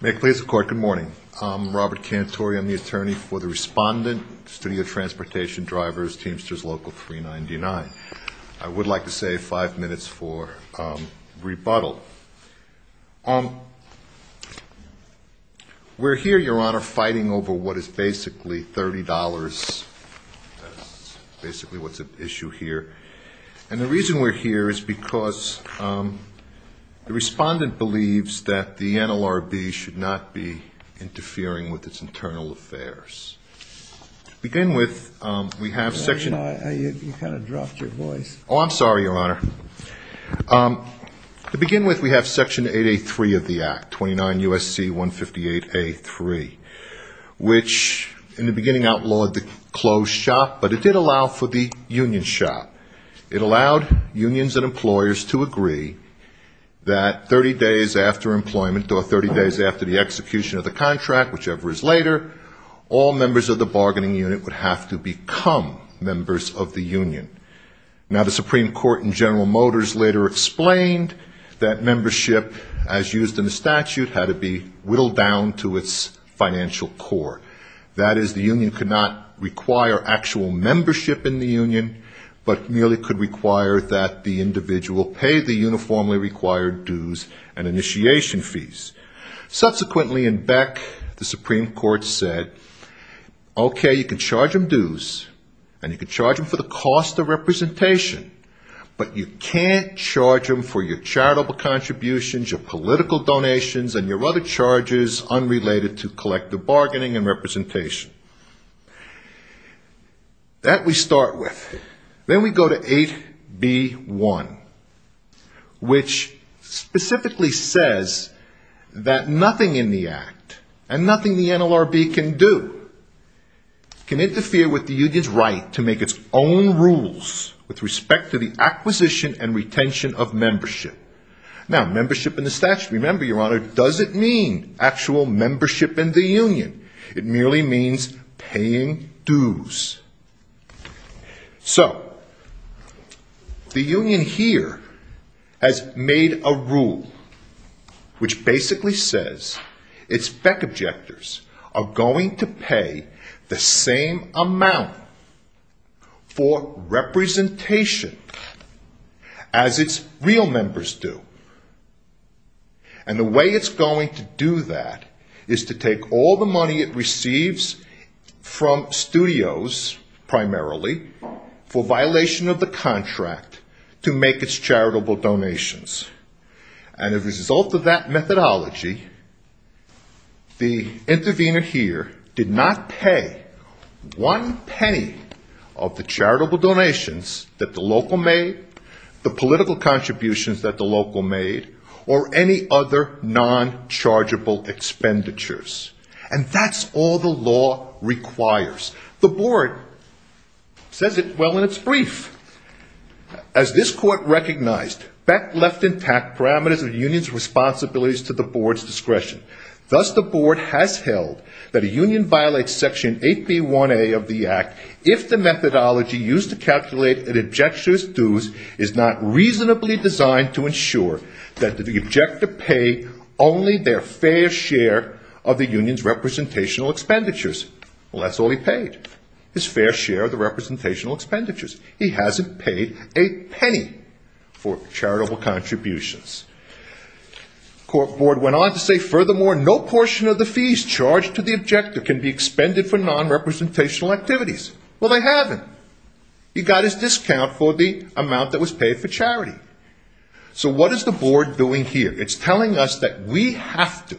May it please the Court, good morning. I'm Robert Cantori. I'm the Attorney for the Respondent, Studio Transportation, Drivers, Teamsters Local 399. I would like to save five minutes for rebuttal. We're here, Your Honor, fighting over what is basically $30. That's basically what's at issue here. And the reason we're here is because the Respondent believes that the NLRB should not be interfering with its internal affairs. To begin with, we have Section – You kind of dropped your voice. Oh, I'm sorry, Your Honor. To begin with, we have Section 8A.3 of the Act, 29 U.S.C. 158A.3, which in the beginning outlawed the closed shop, but it did allow for the union shop. It allowed unions and employers to agree that 30 days after employment or 30 days after the execution of the contract, whichever is later, all members of the bargaining unit would have to become members of the union. Now, the Supreme Court in General Motors later explained that membership, as used in the statute, had to be whittled down to its financial core. That is, the union could not require actual membership in the union, but merely could require that the individual pay the uniformly required dues and initiation fees. Subsequently, in Beck, the Supreme Court said, Okay, you can charge them dues, and you can charge them for the cost of representation, but you can't charge them for your charitable contributions, your political donations, and your other charges unrelated to collective bargaining and representation. That we start with. Then we go to 8B.1, which specifically says that nothing in the Act and nothing the NLRB can do can interfere with the union's right to make its own rules with respect to the acquisition and retention of membership. Now, membership in the statute, remember, Your Honor, doesn't mean actual membership in the union. It merely means paying dues. So, the union here has made a rule which basically says its Beck objectors are going to pay the same amount for representation as its real members do. And the way it's going to do that is to take all the money it receives from studios, primarily, for violation of the contract to make its charitable donations. And as a result of that methodology, the intervener here did not pay one penny of the charitable donations that the local made, the political contributions that the local made, or any other non-chargeable expenditures. And that's all the law requires. The Board says it well in its brief. As this Court recognized, Beck left intact parameters of the union's responsibilities to the Board's discretion. Thus, the Board has held that a union violates Section 8B.1a of the Act if the methodology used to calculate an objector's dues is not reasonably designed to ensure that the objector pay only their fair share of the union's representational expenditures. Well, that's all he paid, his fair share of the representational expenditures. He hasn't paid a penny for charitable contributions. The Court Board went on to say, furthermore, no portion of the fees charged to the objector can be expended for non-representational activities. Well, they haven't. He got his discount for the amount that was paid for charity. So what is the Board doing here? It's telling us that we have to.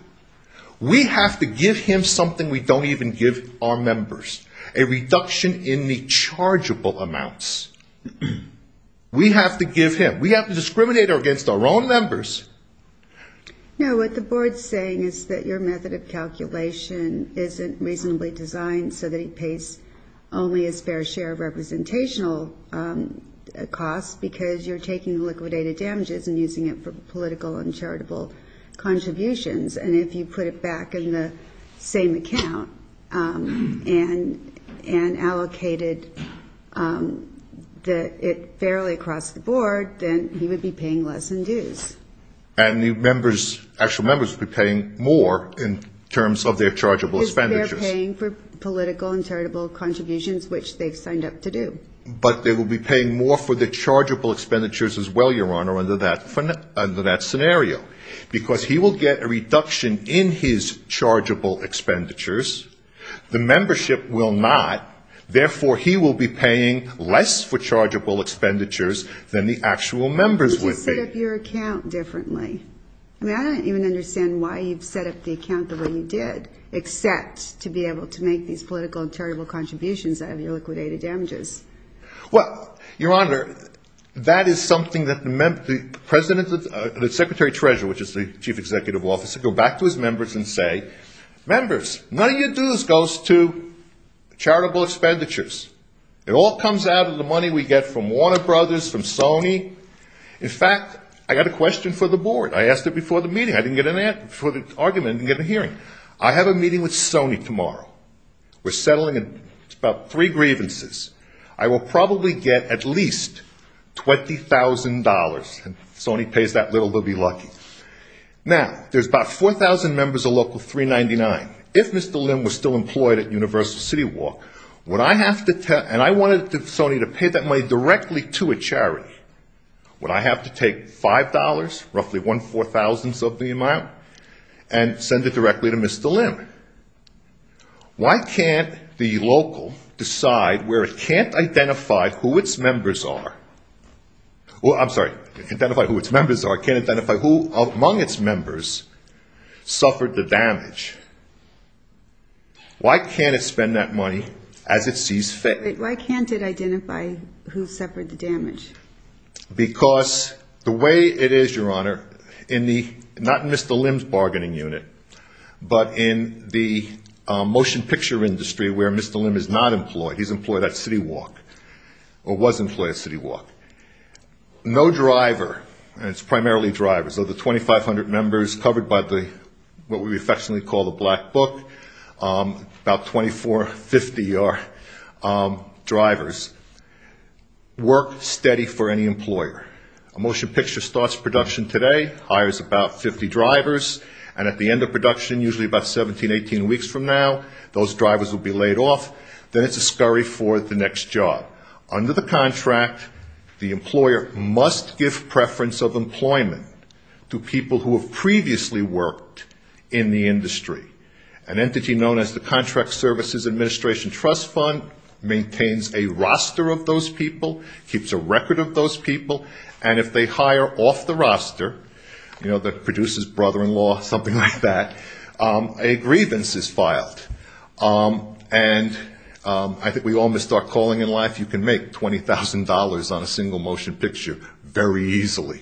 We have to give him something we don't even give our members, a reduction in the chargeable amounts. We have to give him. We have to discriminate against our own members. No, what the Board's saying is that your method of calculation isn't reasonably designed so that he pays only his fair share of representational costs because you're taking liquidated damages and using it for political and charitable contributions. And if you put it back in the same account and allocated it fairly across the Board, then he would be paying less in dues. And the members, actual members, would be paying more in terms of their chargeable expenditures. Because they're paying for political and charitable contributions, which they've signed up to do. But they will be paying more for the chargeable expenditures as well, Your Honor, under that scenario. Because he will get a reduction in his chargeable expenditures. The membership will not. Therefore, he will be paying less for chargeable expenditures than the actual members would be. You just set up your account differently. I mean, I don't even understand why you've set up the account the way you did, except to be able to make these political and charitable contributions out of your liquidated damages. Well, Your Honor, that is something that the secretary-treasurer, which is the chief executive officer, go back to his members and say, members, none of your dues goes to charitable expenditures. It all comes out of the money we get from Warner Brothers, from Sony. In fact, I got a question for the Board. I asked it before the meeting. I didn't get an answer. Before the argument, I didn't get a hearing. I have a meeting with Sony tomorrow. We're settling about three grievances. I will probably get at least $20,000. If Sony pays that little, they'll be lucky. Now, there's about 4,000 members of Local 399. If Mr. Lim was still employed at Universal CityWalk, would I have to tell, and I wanted Sony to pay that money directly to a charity, would I have to take $5, roughly one four-thousandth of the amount, and send it directly to Mr. Lim? Why can't the local decide where it can't identify who its members are? I'm sorry, identify who its members are. It can't identify who among its members suffered the damage. Why can't it spend that money as it sees fit? Why can't it identify who suffered the damage? Because the way it is, Your Honor, not in Mr. Lim's bargaining unit, but in the motion picture industry where Mr. Lim is not employed. He's employed at CityWalk, or was employed at CityWalk. No driver, and it's primarily drivers, of the 2,500 members covered by what we affectionately call the black book, about 2,450 are drivers, work steady for any employer. A motion picture starts production today, hires about 50 drivers, and at the end of production, usually about 17, 18 weeks from now, those drivers will be laid off. Then it's a scurry for the next job. Under the contract, the employer must give preference of employment to people who have previously worked in the industry. An entity known as the Contract Services Administration Trust Fund maintains a roster of those people, keeps a record of those people, and if they hire off the roster, you know, the producer's brother-in-law, something like that, a grievance is filed. And I think we all missed our calling in life. You can make $20,000 on a single motion picture very easily.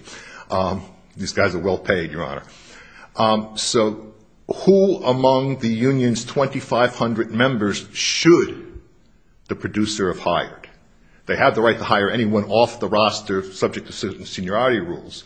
These guys are well paid, Your Honor. So who among the union's 2,500 members should the producer have hired? They have the right to hire anyone off the roster subject to certain seniority rules.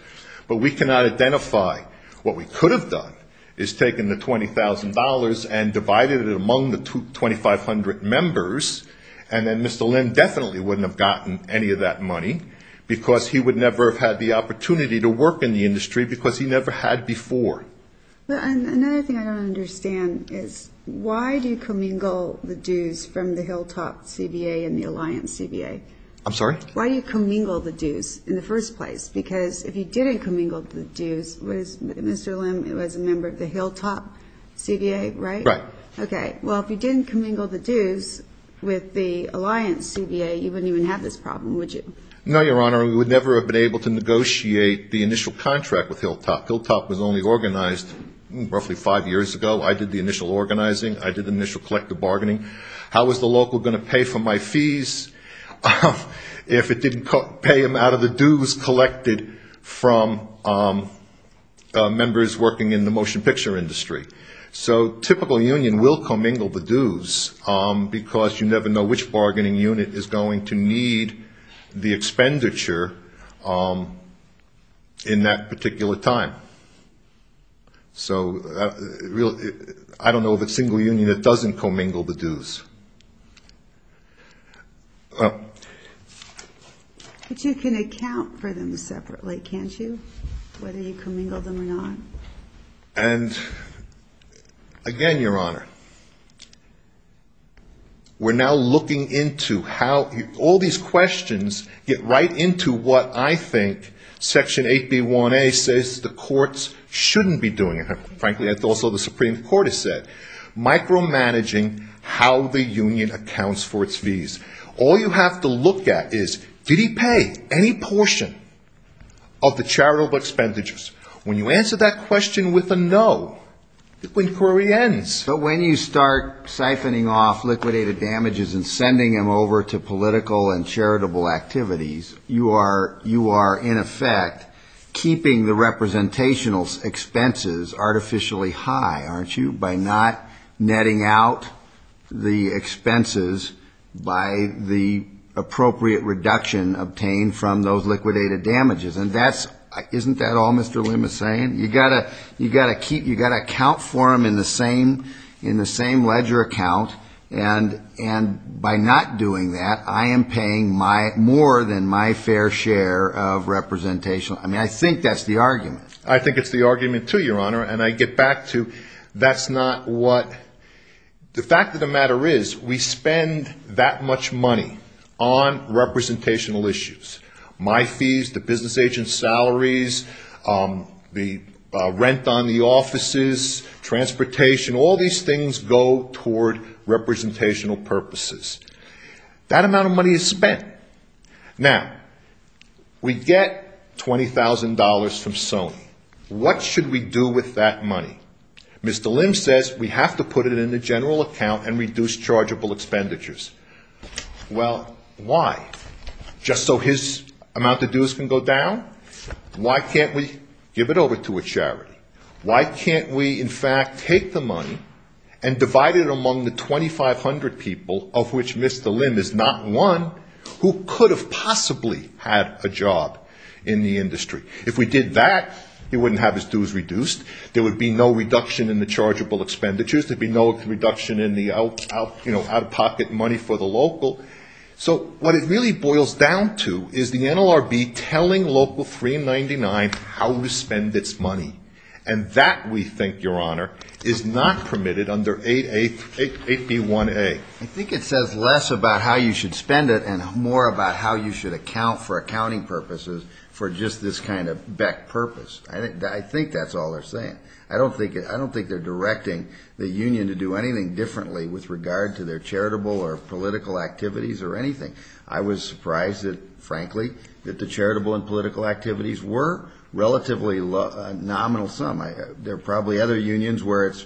But we cannot identify what we could have done is taken the $20,000 and divided it among the 2,500 members, and then Mr. Lynn definitely wouldn't have gotten any of that money, because he would never have had the opportunity to work in the industry because he never had before. Another thing I don't understand is why do you commingle the dues from the Hilltop CBA and the Alliance CBA? I'm sorry? Why do you commingle the dues in the first place? Because if you didn't commingle the dues, Mr. Lynn was a member of the Hilltop CBA, right? Right. Okay. Well, if you didn't commingle the dues with the Alliance CBA, you wouldn't even have this problem, would you? No, Your Honor. We would never have been able to negotiate the initial contract with Hilltop. Hilltop was only organized roughly five years ago. I did the initial organizing. I did the initial collective bargaining. How was the local going to pay for my fees if it didn't pay them out of the dues collected from members working in the motion picture industry? So a typical union will commingle the dues because you never know which bargaining unit is going to need the expenditure in that particular time. So I don't know of a single union that doesn't commingle the dues. But you can account for them separately, can't you, whether you commingle them or not? And again, Your Honor, we're now looking into how all these questions get right into what I think Section 8B1A says the courts shouldn't be doing. Frankly, that's also what the Supreme Court has said, micromanaging how the union accounts for its fees. All you have to look at is did he pay any portion of the charitable expenditures? When you answer that question with a no, the inquiry ends. But when you start siphoning off liquidated damages and sending them over to political and charitable activities, you are in effect keeping the representational expenses artificially high, aren't you, by not netting out the expenses by the appropriate reduction obtained from those liquidated damages. And isn't that all Mr. Lim is saying? You've got to account for them in the same ledger account. And by not doing that, I am paying more than my fair share of representational. I mean, I think that's the argument. I think it's the argument, too, Your Honor. And I get back to that's not what the fact of the matter is, we spend that much money on representational issues. My fees, the business agent's salaries, the rent on the offices, transportation, all these things go toward representational purposes. That amount of money is spent. Now, we get $20,000 from Sony. What should we do with that money? Mr. Lim says we have to put it in the general account and reduce chargeable expenditures. Well, why? Just so his amount of dues can go down? Why can't we give it over to a charity? Why can't we, in fact, take the money and divide it among the 2,500 people, of which Mr. Lim is not one, who could have possibly had a job in the industry? If we did that, he wouldn't have his dues reduced. There would be no reduction in the chargeable expenditures. There would be no reduction in the out-of-pocket money for the local. So what it really boils down to is the NLRB telling Local 399 how to spend its money, and that, we think, Your Honor, is not permitted under 8B1A. I think it says less about how you should spend it and more about how you should account for accounting purposes for just this kind of BECC purpose. I think that's all they're saying. I don't think they're directing the union to do anything differently with regard to their charitable or political activities or anything. I was surprised, frankly, that the charitable and political activities were relatively nominal sum. There are probably other unions where it's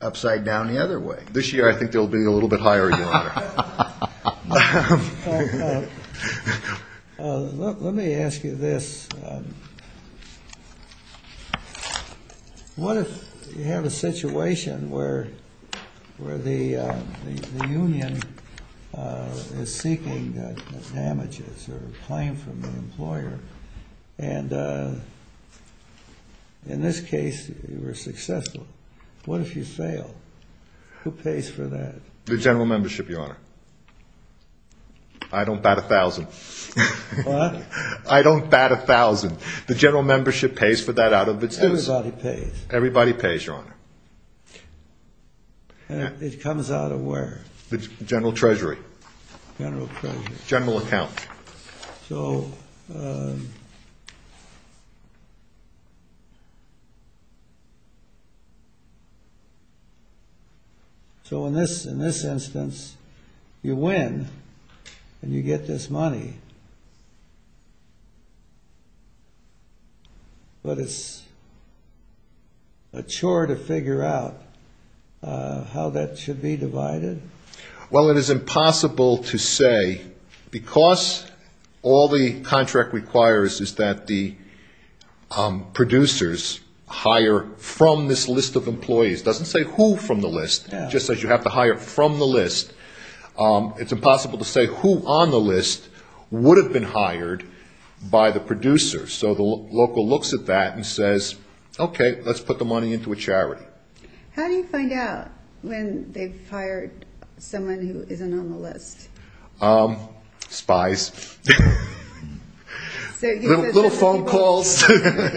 upside down the other way. This year I think they'll be a little bit higher, Your Honor. Let me ask you this. What if you have a situation where the union is seeking damages or a claim from the employer, and in this case you were successful? What if you fail? Who pays for that? The general membership, Your Honor. I don't bat a thousand. What? I don't bat a thousand. The general membership pays for that out of its own. Everybody pays. Everybody pays, Your Honor. And it comes out of where? The general treasury. General treasury. General account. So in this instance you win and you get this money, but it's a chore to figure out how that should be divided? Well, it is impossible to say, because all the contract requires is that the producers hire from this list of employees. It doesn't say who from the list. It just says you have to hire from the list. It's impossible to say who on the list would have been hired by the producers. So the local looks at that and says, okay, let's put the money into a charity. How do you find out when they've hired someone who isn't on the list? Spies. Little phone calls.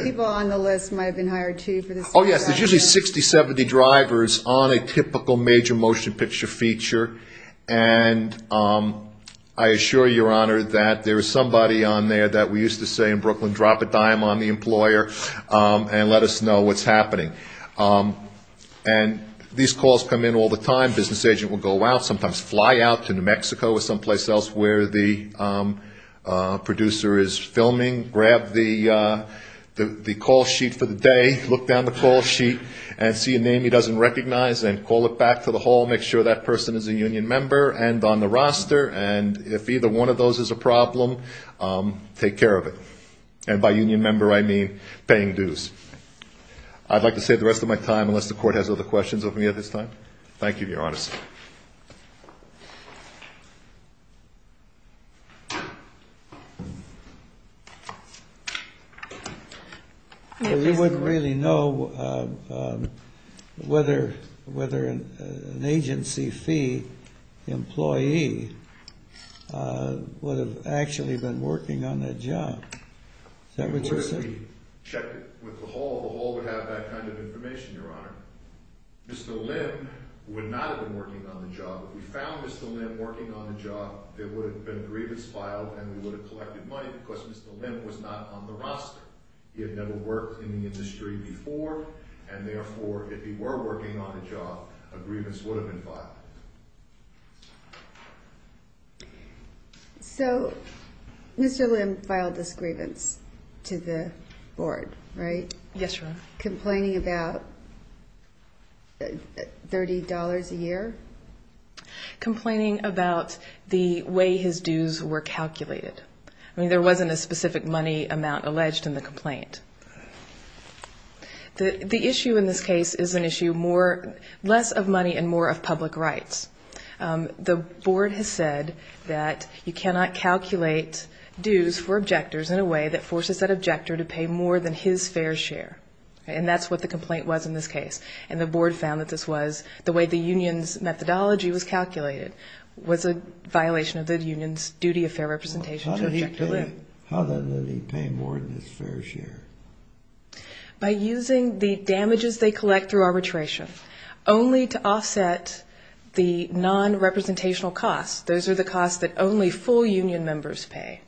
People on the list might have been hired too for this. Oh, yes. There's usually 60, 70 drivers on a typical major motion picture feature, and I assure you, Your Honor, that there is somebody on there that we used to say in Brooklyn, drop a dime on the employer and let us know what's happening. And these calls come in all the time. Business agent will go out, sometimes fly out to New Mexico or someplace else where the producer is filming. Grab the call sheet for the day. Look down the call sheet and see a name he doesn't recognize and call it back to the hall, make sure that person is a union member and on the roster, and if either one of those is a problem, take care of it. And by union member, I mean paying dues. I'd like to save the rest of my time unless the Court has other questions of me at this time. Thank you, Your Honor. You wouldn't really know whether an agency fee employee would have actually been working on that job. Is that what you're saying? The hall would have that kind of information, Your Honor. Mr. Lim would not have been working on the job. If we found Mr. Lim working on the job, there would have been a grievance filed and we would have collected money because Mr. Lim was not on the roster. He had never worked in the industry before, and therefore, if he were working on the job, a grievance would have been filed. So Mr. Lim filed this grievance to the board, right? Yes, Your Honor. Complaining about $30 a year? Complaining about the way his dues were calculated. I mean, there wasn't a specific money amount alleged in the complaint. The issue in this case is an issue less of money and more of public rights. The board has said that you cannot calculate dues for objectors in a way that forces that objector to pay more than his fair share. And that's what the complaint was in this case. And the board found that this was the way the union's methodology was calculated was a violation of the union's duty of fair representation to objector Lim. How did he pay more than his fair share? By using the damages they collect through arbitration only to offset the non-representational costs. Those are the costs that only full union members pay.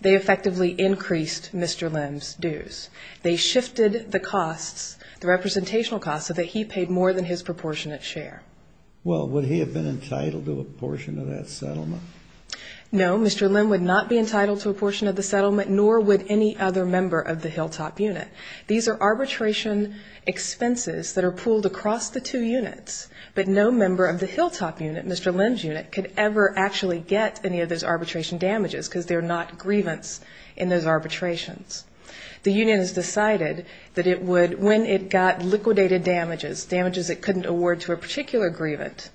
They effectively increased Mr. Lim's dues. They shifted the costs, the representational costs, so that he paid more than his proportionate share. Well, would he have been entitled to a portion of that settlement? No, Mr. Lim would not be entitled to a portion of the settlement, nor would any other member of the Hilltop Unit. These are arbitration expenses that are pooled across the two units. But no member of the Hilltop Unit, Mr. Lim's unit, could ever actually get any of those arbitration damages because they're not grievance in those arbitrations. The union has decided that it would, when it got liquidated damages, damages it couldn't award to a particular grievant,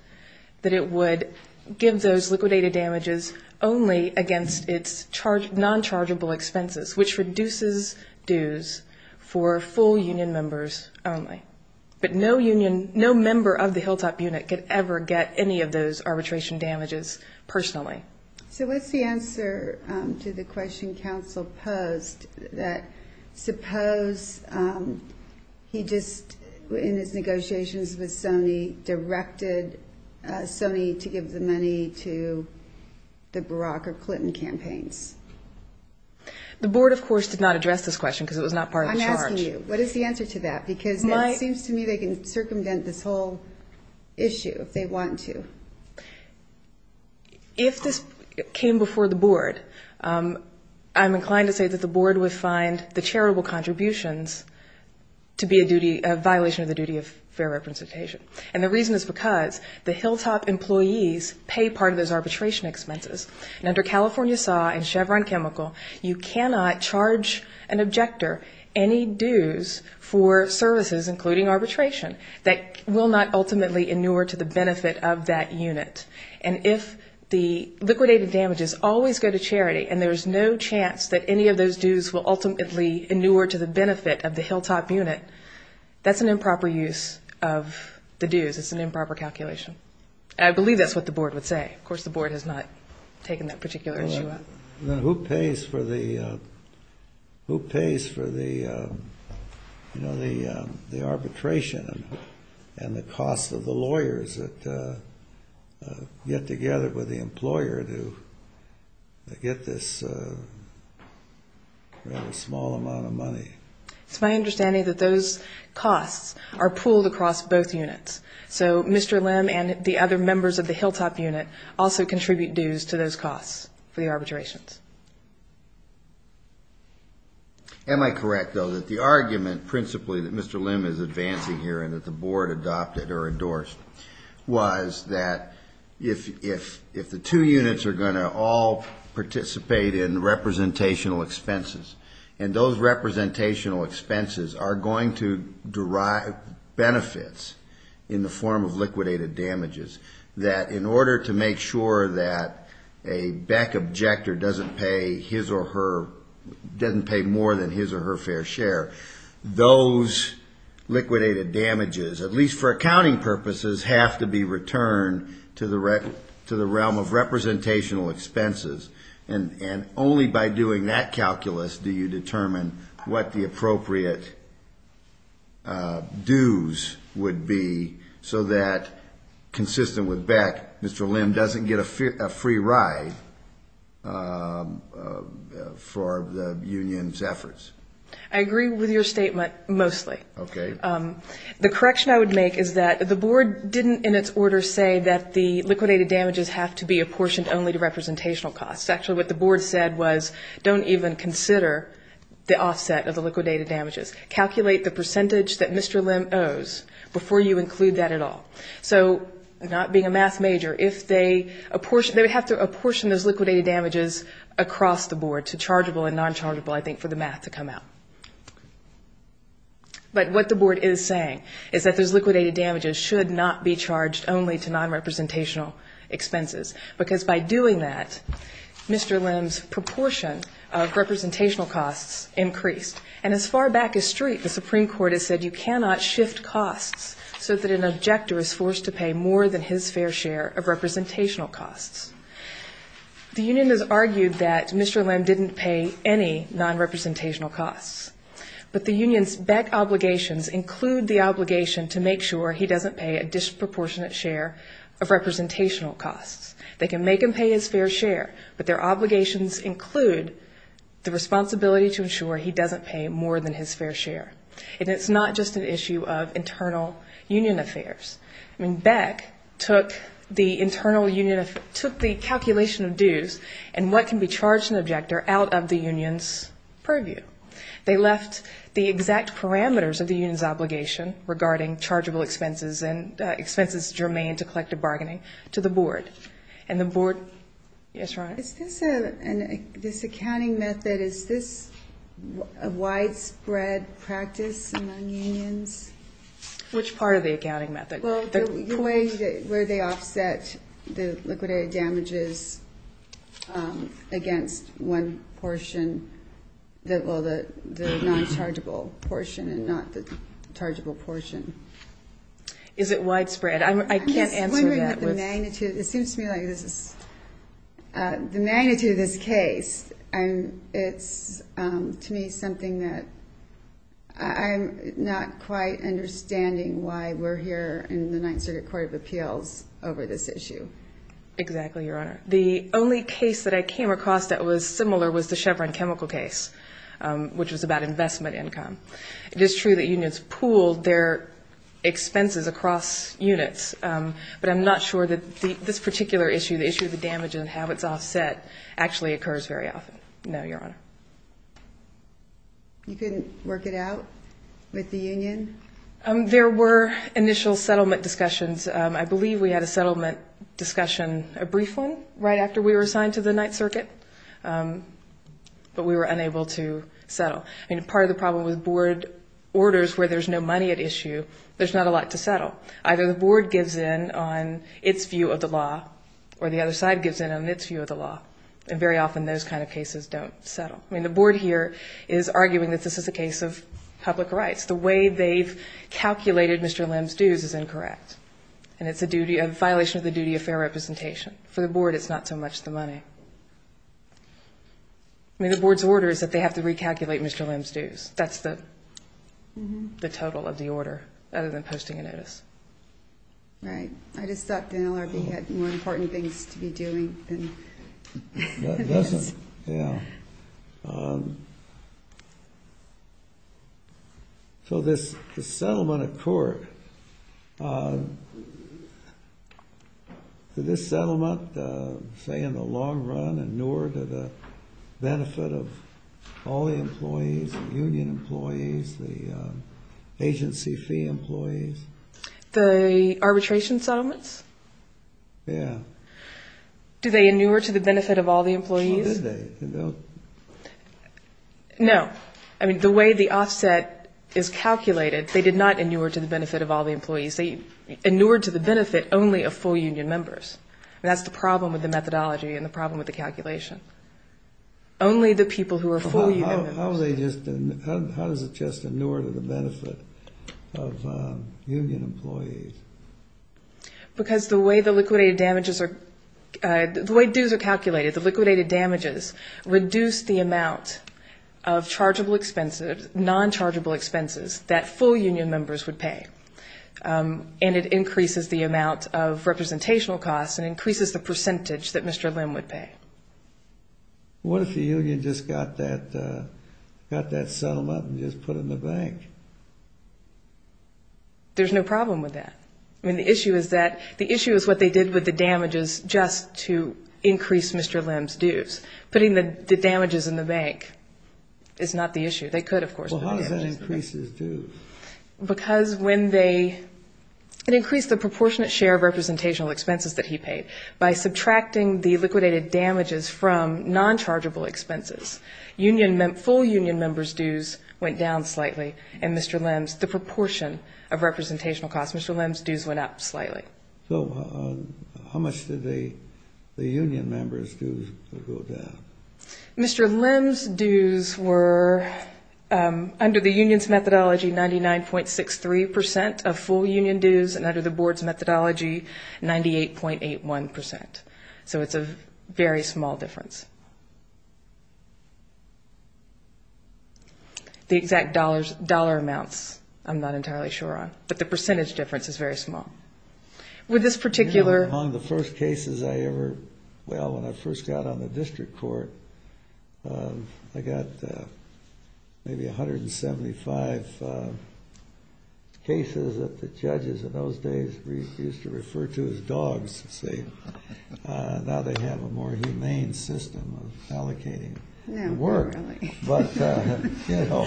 that it would give those liquidated damages only against its non-chargeable expenses, which reduces dues for full union members only. But no member of the Hilltop Unit could ever get any of those arbitration damages personally. So what's the answer to the question counsel posed that suppose he just, in his negotiations with Sony, directed Sony to give the money to the Barack or Clinton campaigns? The board, of course, did not address this question because it was not part of the charge. I'm asking you, what is the answer to that? Because it seems to me they can circumvent this whole issue if they want to. If this came before the board, I'm inclined to say that the board would find the charitable contributions to be a duty, a violation of the duty of fair representation. And the reason is because the Hilltop employees pay part of those arbitration expenses. And under California SAW and Chevron Chemical, you cannot charge an objector any dues for services, including arbitration, that will not ultimately inure to the benefit of that unit. And if the liquidated damages always go to charity and there's no chance that any of those dues will ultimately inure to the benefit of the Hilltop Unit, that's an improper use of the dues. It's an improper calculation. I believe that's what the board would say. Of course, the board has not taken that particular issue up. Then who pays for the arbitration and the cost of the lawyers that get together with the employer to get this rather small amount of money? It's my understanding that those costs are pooled across both units. So Mr. Lim and the other members of the Hilltop Unit also contribute dues to those costs for the arbitrations. Am I correct, though, that the argument principally that Mr. Lim is advancing here and that the board adopted or endorsed, was that if the two units are going to all participate in representational expenses, and those representational expenses are going to derive benefits in the form of liquidated damages, that in order to make sure that a Beck objector doesn't pay more than his or her fair share, those liquidated damages, at least for accounting purposes, have to be returned to the realm of representational expenses. And only by doing that calculus do you determine what the appropriate dues would be so that, consistent with Beck, Mr. Lim doesn't get a free ride for the union's efforts. I agree with your statement mostly. Okay. The correction I would make is that the board didn't, in its order, say that the liquidated damages have to be apportioned only to representational costs. Actually, what the board said was, don't even consider the offset of the liquidated damages. Calculate the percentage that Mr. Lim owes before you include that at all. So, not being a math major, if they apportion, they would have to apportion those liquidated damages across the board to chargeable and nonchargeable, I think, for the math to come out. But what the board is saying is that those liquidated damages should not be charged only to nonrepresentational expenses. Because by doing that, Mr. Lim's proportion of representational costs increased. And as far back as street, the Supreme Court has said, you cannot shift costs so that an objector is forced to pay more than his fair share of representational costs. The union has argued that Mr. Lim didn't pay any nonrepresentational costs. But the union's BEC obligations include the obligation to make sure he doesn't pay a disproportionate share of representational costs. They can make him pay his fair share, but their obligations include the responsibility to ensure he doesn't pay more than his fair share. And it's not just an issue of internal union affairs. I mean, BEC took the internal union of, took the calculation of dues and what can be charged to an objector out of the union's purview. They left the exact parameters of the union's obligation regarding chargeable expenses and expenses germane to collective bargaining to the board. And the board, yes, Your Honor? Is this an, this accounting method, is this a widespread practice among unions? Which part of the accounting method? Well, the way, where they offset the liquidated damages against one portion, well, the nonchargeable portion and not the chargeable portion. Is it widespread? I can't answer that with. I'm just wondering the magnitude. It seems to me like this is, the magnitude of this case, it's to me something that I'm not quite understanding why we're here in the Ninth Circuit Court of Appeals over this issue. Exactly, Your Honor. The only case that I came across that was similar was the Chevron chemical case, which was about investment income. It is true that unions pooled their expenses across units, but I'm not sure that this particular issue, the issue of the damage and how it's offset actually occurs very often. No, Your Honor. You couldn't work it out with the union? There were initial settlement discussions. I believe we had a settlement discussion, a brief one, right after we were assigned to the Ninth Circuit, but we were unable to settle. I mean, part of the problem with board orders where there's no money at issue, there's not a lot to settle. Either the board gives in on its view of the law or the other side gives in on its view of the law, and very often those kind of cases don't settle. I mean, the board here is arguing that this is a case of public rights. The way they've calculated Mr. Lim's dues is incorrect, and it's a violation of the duty of fair representation. For the board, it's not so much the money. I mean, the board's order is that they have to recalculate Mr. Lim's dues. That's the total of the order, other than posting a notice. Right. I just thought the NLRB had more important things to be doing than this. Yeah. So this settlement of court, this settlement, say, in the long run, do they inure to the benefit of all the employees, the union employees, the agency fee employees? The arbitration settlements? Yeah. Do they inure to the benefit of all the employees? Well, did they? No. I mean, the way the offset is calculated, they did not inure to the benefit of all the employees. They inured to the benefit only of full union members. I mean, that's the problem with the methodology and the problem with the calculation. Only the people who are full union members. How does it just inure to the benefit of union employees? Because the way the liquidated damages are calculated, the liquidated damages reduce the amount of non-chargeable expenses that full union members would pay, and it increases the amount of representational costs and increases the percentage that Mr. Lim would pay. What if the union just got that settlement and just put it in the bank? There's no problem with that. I mean, the issue is that the issue is what they did with the damages just to increase Mr. Lim's dues. Putting the damages in the bank is not the issue. They could, of course, put the damages in the bank. Well, how does that increase his dues? Because when they increased the proportionate share of representational expenses that he paid by subtracting the liquidated damages from non-chargeable expenses, full union members' dues went down slightly and Mr. Lim's, the proportion of representational costs, Mr. Lim's dues went up slightly. So how much did the union members' dues go down? Mr. Lim's dues were, under the union's methodology, 99.63 percent of full union dues, and under the board's methodology, 98.81 percent. So it's a very small difference. The exact dollar amounts I'm not entirely sure on, but the percentage difference is very small. With this particular... You know, among the first cases I ever, well, when I first got on the district court, I got maybe 175 cases that the judges in those days used to refer to as dogs, see. Now they have a more humane system of allocating work. No, not really. But, you know,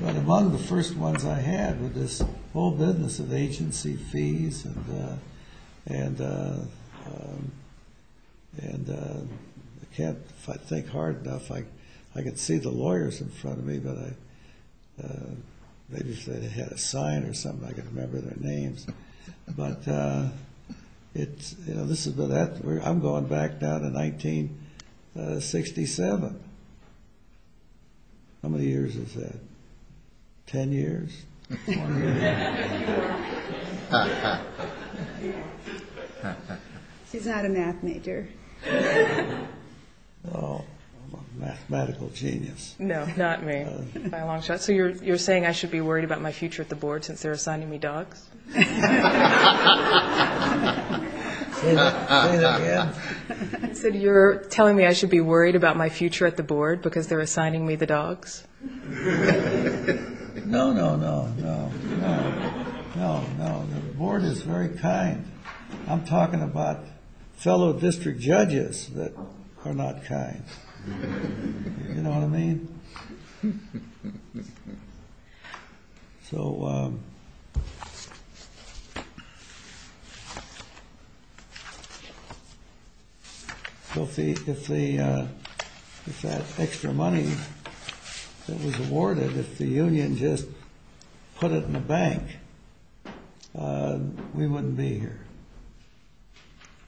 among the first ones I had with this whole business of agency fees and I can't think hard enough. I can see the lawyers in front of me, but maybe if they had a sign or something, I could remember their names. But, you know, I'm going back down to 1967. How many years is that? Ten years? Ten years. He's not a math major. No, I'm a mathematical genius. No, not me, by a long shot. So you're saying I should be worried about my future at the board since they're assigning me dogs? Say that again. So you're telling me I should be worried about my future at the board because they're assigning me the dogs? No, no, no, no, no, no. The board is very kind. I'm talking about fellow district judges that are not kind. You know what I mean? So if that extra money that was awarded, if the union just put it in the bank, we wouldn't be here.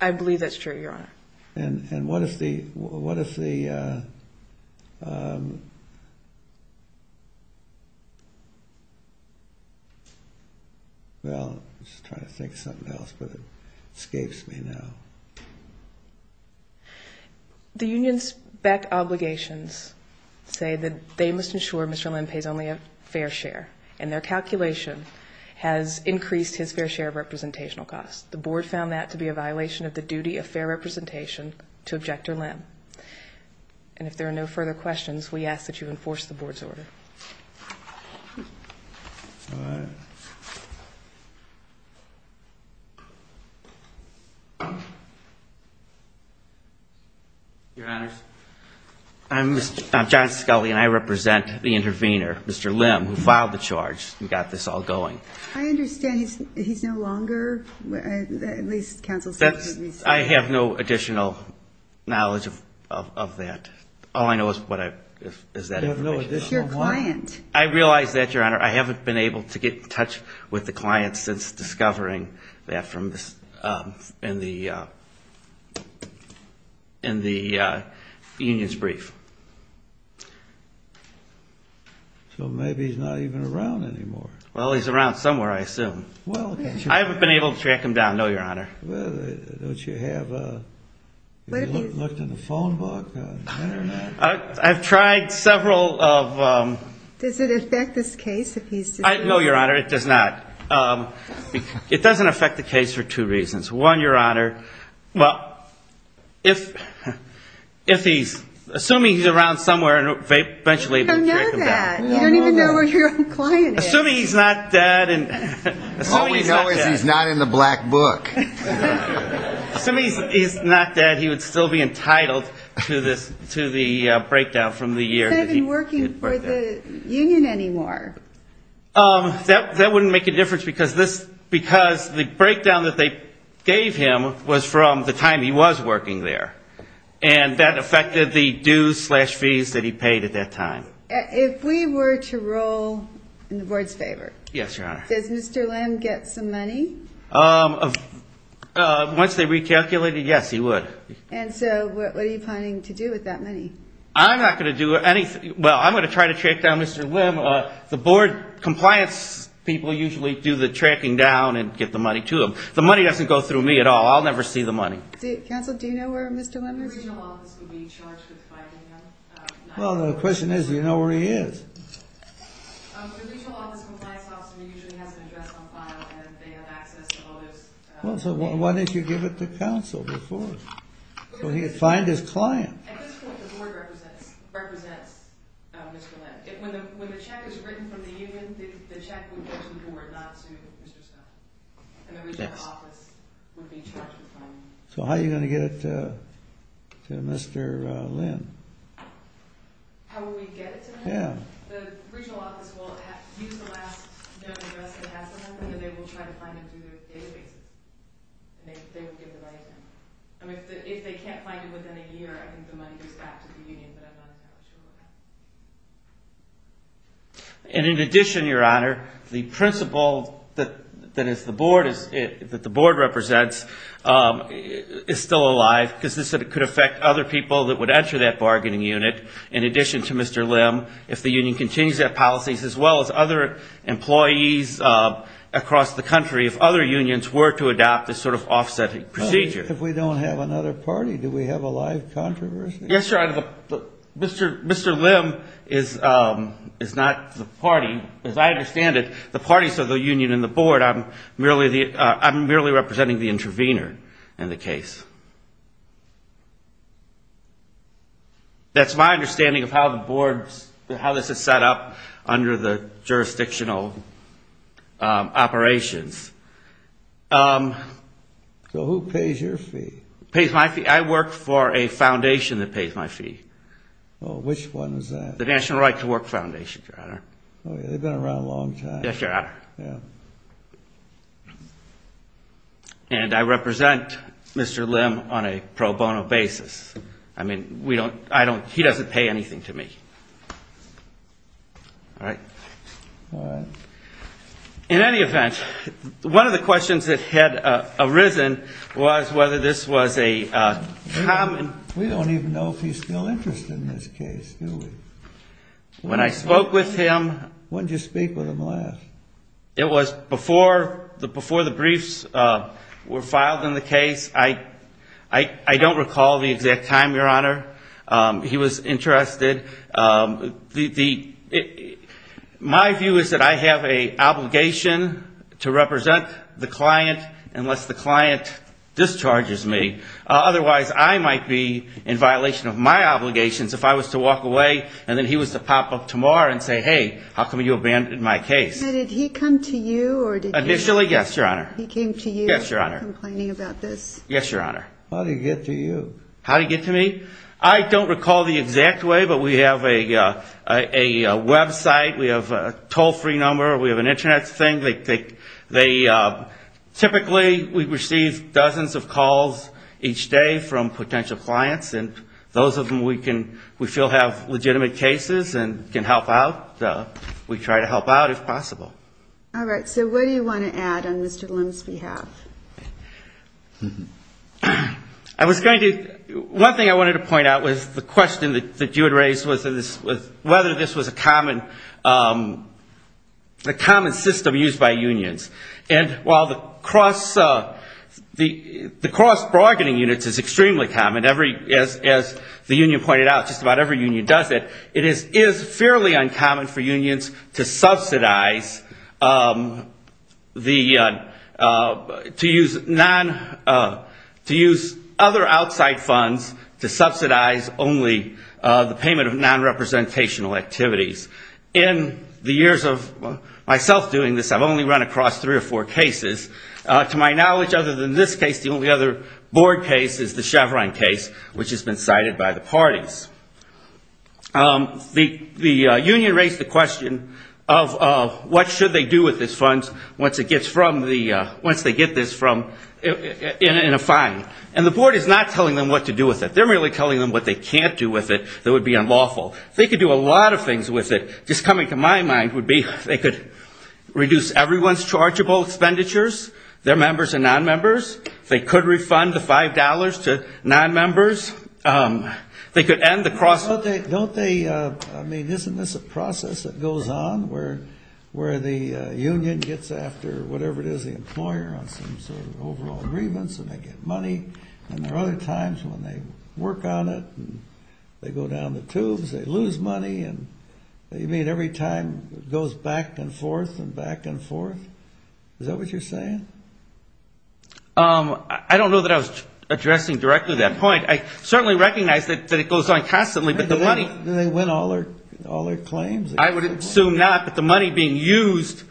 I believe that's true, Your Honor. Well, I'm just trying to think of something else, but it escapes me now. The union's back obligations say that they must ensure Mr. Lim pays only a fair share, and their calculation has increased his fair share of representational costs. The board found that to be a violation of the duty of fair representation to Objector Lim. And if there are no further questions, we ask that you enforce the board's order. All right. Your Honors, I'm John Scully, and I represent the intervener, Mr. Lim, who filed the charge and got this all going. I understand he's no longer, at least counsel said he was. I have no additional knowledge of that. All I know is that information. You have no additional knowledge? It's your client. I realize that, Your Honor. I haven't been able to get in touch with the client since discovering that in the union's brief. So maybe he's not even around anymore. Well, he's around somewhere, I assume. I haven't been able to track him down, no, Your Honor. Don't you have a phone book? I've tried several of them. Does it affect this case? No, Your Honor, it does not. It doesn't affect the case for two reasons. One, Your Honor, assuming he's around somewhere, and eventually we can track him down. You don't know that. You don't even know where your own client is. Assuming he's not dead. All we know is he's not in the black book. Assuming he's not dead, he would still be entitled to the breakdown from the year. He's not even working for the union anymore. That wouldn't make a difference because the breakdown that they gave him was from the time he was working there, and that affected the dues slash fees that he paid at that time. If we were to roll in the board's favor. Yes, Your Honor. Does Mr. Lim get some money? Once they recalculate it, yes, he would. And so what are you planning to do with that money? I'm not going to do anything. Well, I'm going to try to track down Mr. Lim. The board compliance people usually do the tracking down and get the money to them. The money doesn't go through me at all. I'll never see the money. Counsel, do you know where Mr. Lim is? The regional office would be charged with finding him. Well, the question is, do you know where he is? The regional office compliance officer usually has an address on file and they have access to all this. Well, so why didn't you give it to counsel before? So he could find his client. At this point, the board represents Mr. Lim. When the check is written from the union, the check would go to the board, not to Mr. Scott. And the regional office would be charged with finding him. So how are you going to get it to Mr. Lim? How will we get it to him? The regional office will use the last known address that it has on them and then they will try to find him through their databases. They will give the money to him. If they can't find him within a year, I think the money goes back to the union, but I'm not entirely sure what happens. And in addition, Your Honor, the principal that the board represents is still alive because this could affect other people that would enter that bargaining unit in addition to Mr. Lim if the union continues their policies as well as other employees across the country if other unions were to adopt this sort of offsetting procedure. If we don't have another party, do we have a live controversy? Yes, Your Honor. Mr. Lim is not the party. I'm merely representing the intervener in the case. That's my understanding of how this is set up under the jurisdictional operations. So who pays your fee? I work for a foundation that pays my fee. Which one is that? The National Right to Work Foundation, Your Honor. Oh, yeah. They've been around a long time. Yes, Your Honor. Yeah. And I represent Mr. Lim on a pro bono basis. I mean, he doesn't pay anything to me. All right? All right. In any event, one of the questions that had arisen was whether this was a common... We don't even know if he's still interested in this case, do we? When I spoke with him... When did you speak with him last? It was before the briefs were filed in the case. I don't recall the exact time, Your Honor. He was interested. My view is that I have an obligation to represent the client unless the client discharges me. Otherwise, I might be in violation of my obligations if I was to walk away and then he was to pop up tomorrow and say, hey, how come you abandoned my case? Now, did he come to you or did he... Initially, yes, Your Honor. He came to you... Yes, Your Honor. ...complaining about this? Yes, Your Honor. How did he get to you? How did he get to me? I don't recall the exact way, but we have a website. We have a toll-free number. We have an Internet thing. Typically, we receive dozens of calls each day from potential clients, and those of them we feel have legitimate cases and can help out. We try to help out if possible. All right. So what do you want to add on Mr. Lim's behalf? I was going to... One thing I wanted to point out was the question that you had raised whether this was a common system used by unions. And while the cross-bargaining unit is extremely common, as the union pointed out, just about every union does it, it is fairly uncommon for unions to subsidize the... activities. In the years of myself doing this, I've only run across three or four cases. To my knowledge, other than this case, the only other board case is the Chevron case, which has been cited by the parties. The union raised the question of what should they do with this fund once it gets from the... once they get this from... in a fine. And the board is not telling them what to do with it. They're merely telling them what they can't do with it that would be unlawful. They could do a lot of things with it. Just coming to my mind would be they could reduce everyone's chargeable expenditures, their members and non-members. They could refund the $5 to non-members. They could end the cross... Don't they... I mean, isn't this a process that goes on where the union gets after whatever it is, the employer, on some sort of overall grievance and they get money? And there are other times when they work on it and they go down the tubes. They lose money. And you mean every time it goes back and forth and back and forth? Is that what you're saying? I don't know that I was addressing directly that point. I certainly recognize that it goes on constantly, but the money... Do they win all their claims? I would assume not, but the money being used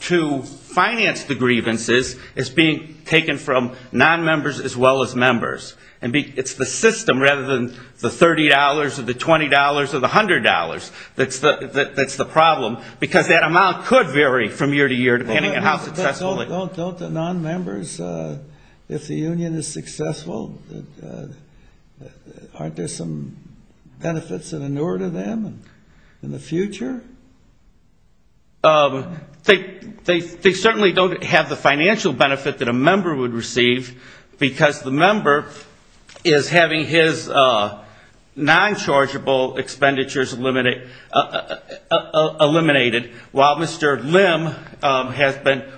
to finance the grievances is being It's the system rather than the $30 or the $20 or the $100 that's the problem, because that amount could vary from year to year depending on how successful it is. Don't the non-members, if the union is successful, aren't there some benefits in the future? They certainly don't have the financial benefit that a member would receive because the member is having his non-chargeable expenditures eliminated while Mr. Lim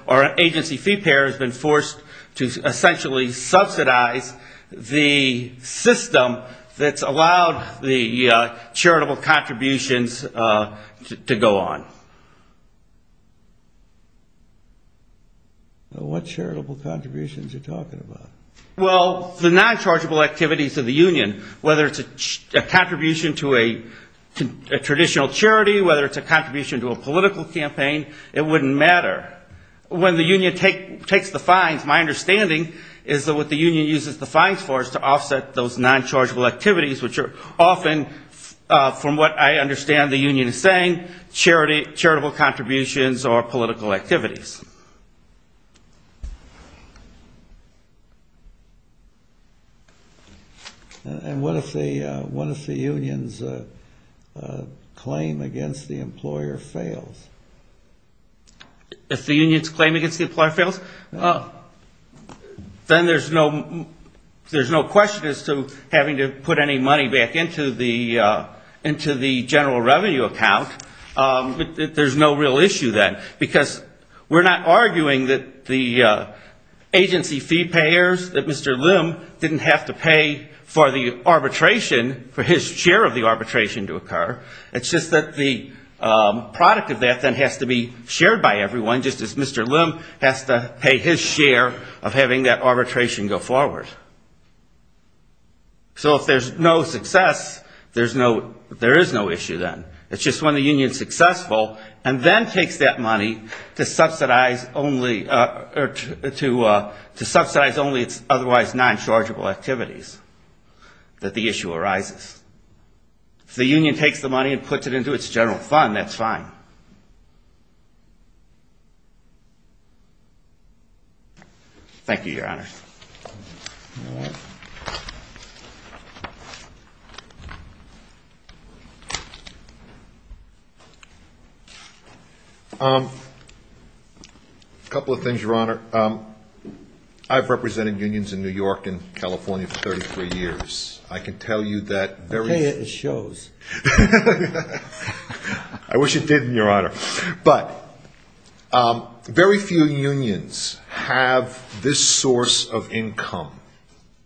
or an agency fee payer has been forced to essentially subsidize the system that's allowed the charitable contributions to go on. What charitable contributions are you talking about? Well, the non-chargeable activities of the union, whether it's a contribution to a traditional charity, whether it's a contribution to a political campaign, it wouldn't matter. When the union takes the fines, my understanding is that what the union uses the fines for is to offset those non-chargeable activities, which are often, from what I understand the union is saying, charitable contributions or political activities. And what if the union's claim against the employer fails? If the union's claim against the employer fails, then there's no question as to having to put any money back into the general revenue account. There's no real issue then because we're not arguing that the agency fee payers, that Mr. Lim didn't have to pay for the arbitration, for his share of the arbitration to occur. It's just that the product of that then has to be shared by everyone, just as Mr. Lim has to pay his share of having that arbitration go forward. So if there's no success, there is no issue then. It's just when the union's successful and then takes that money to subsidize only its otherwise non-chargeable activities that the issue arises. If the union takes the money and puts it into its general fund, that's fine. Thank you, Your Honor. A couple of things, Your Honor. I've represented unions in New York and California for 33 years. I can tell you that very soon. Okay, it shows. I wish it did, Your Honor. But very few unions have this source of income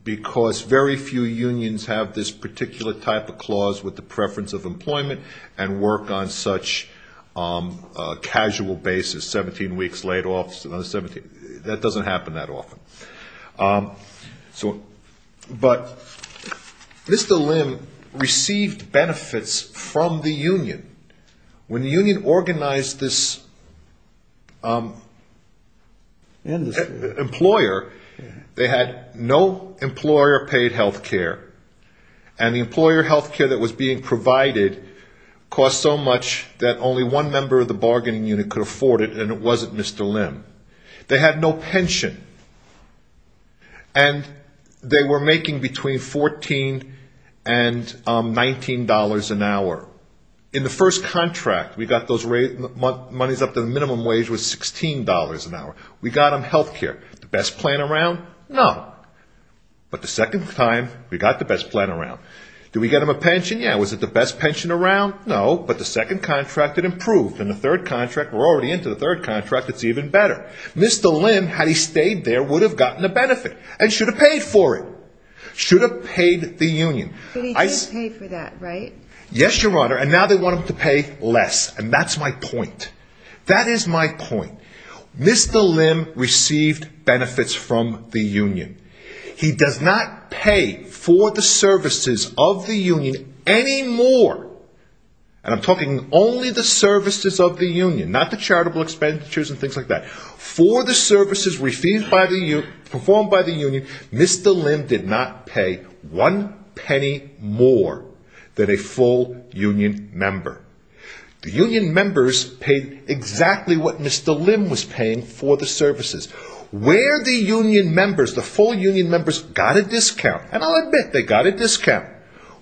because very few unions have this particular type of clause with the preference of employment and work on such a casual basis, 17 weeks laid off. That doesn't happen that often. But Mr. Lim received benefits from the union. When the union organized this employer, they had no employer-paid health care. And the employer health care that was being provided cost so much that only one member of the bargaining unit could afford it, and it wasn't Mr. Lim. They had no pension. And they were making between $14 and $19 an hour. In the first contract, we got those monies up to the minimum wage was $16 an hour. We got them health care. The best plan around? No. But the second time, we got the best plan around. Did we get them a pension? Yeah. Was it the best pension around? No. But the second contract, it improved. We're already into the third contract. It's even better. Mr. Lim, had he stayed there, would have gotten a benefit and should have paid for it, should have paid the union. But he did pay for that, right? Yes, Your Honor. And now they want him to pay less. And that's my point. That is my point. Mr. Lim received benefits from the union. He does not pay for the services of the union anymore. And I'm talking only the services of the union, not the charitable expenditures and things like that. For the services performed by the union, Mr. Lim did not pay one penny more than a full union member. The union members paid exactly what Mr. Lim was paying for the services. Where the union members, the full union members got a discount, and I'll admit they got a discount,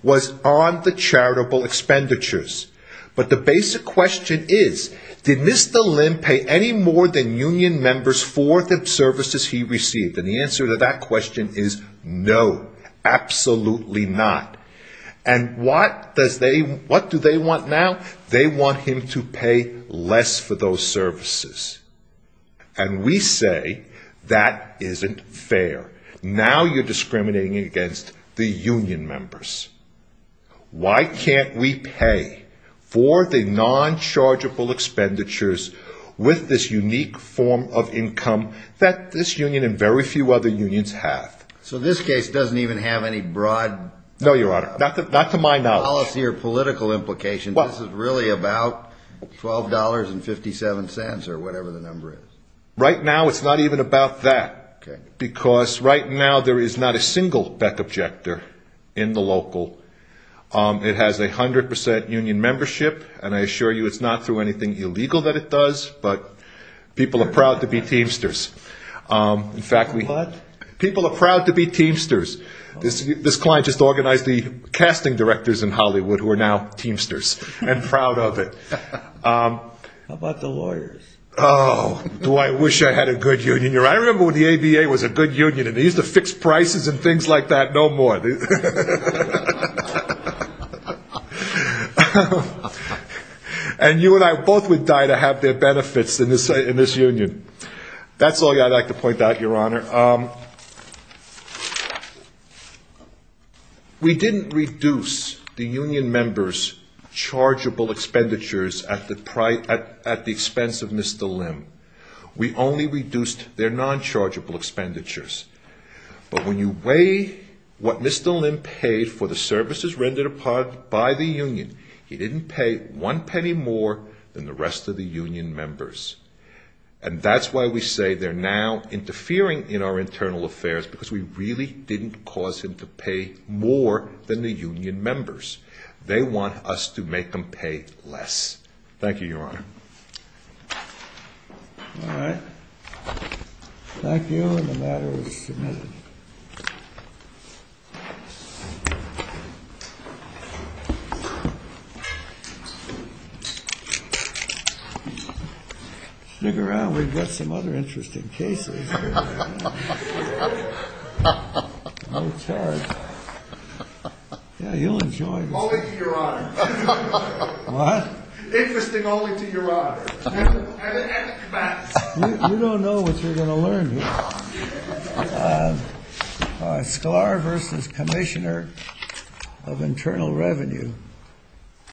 was on the charitable expenditures. But the basic question is, did Mr. Lim pay any more than union members for the services he received? And the answer to that question is no, absolutely not. And what do they want now? They want him to pay less for those services. And we say that isn't fair. Now you're discriminating against the union members. Why can't we pay for the non-chargeable expenditures with this unique form of income that this union and very few other unions have? So this case doesn't even have any broad policy or political implications. So you're saying this is really about $12.57 or whatever the number is? Right now it's not even about that. Because right now there is not a single Beck Objector in the local. It has a 100 percent union membership. And I assure you it's not through anything illegal that it does, but people are proud to be Teamsters. In fact, people are proud to be Teamsters. This client just organized the casting directors in Hollywood who are now Teamsters and proud of it. How about the lawyers? Oh, do I wish I had a good union. I remember when the ABA was a good union and they used to fix prices and things like that no more. And you and I both would die to have their benefits in this union. That's all I'd like to point out, Your Honor. We didn't reduce the union members' chargeable expenditures at the expense of Mr. Lim. We only reduced their non-chargeable expenditures. But when you weigh what Mr. Lim paid for the services rendered by the union, he didn't pay one penny more than the rest of the union members. And that's why we say they're now interfering in our internal affairs, because we really didn't cause him to pay more than the union members. They want us to make them pay less. Thank you, Your Honor. All right. Thank you. And the matter is submitted. Stick around. We've got some other interesting cases. No charge. Yeah, he'll enjoy this. Only to Your Honor. What? Interesting only to Your Honor. You don't know what you're going to learn here. Sklar v. Commissioner of Internal Revenue.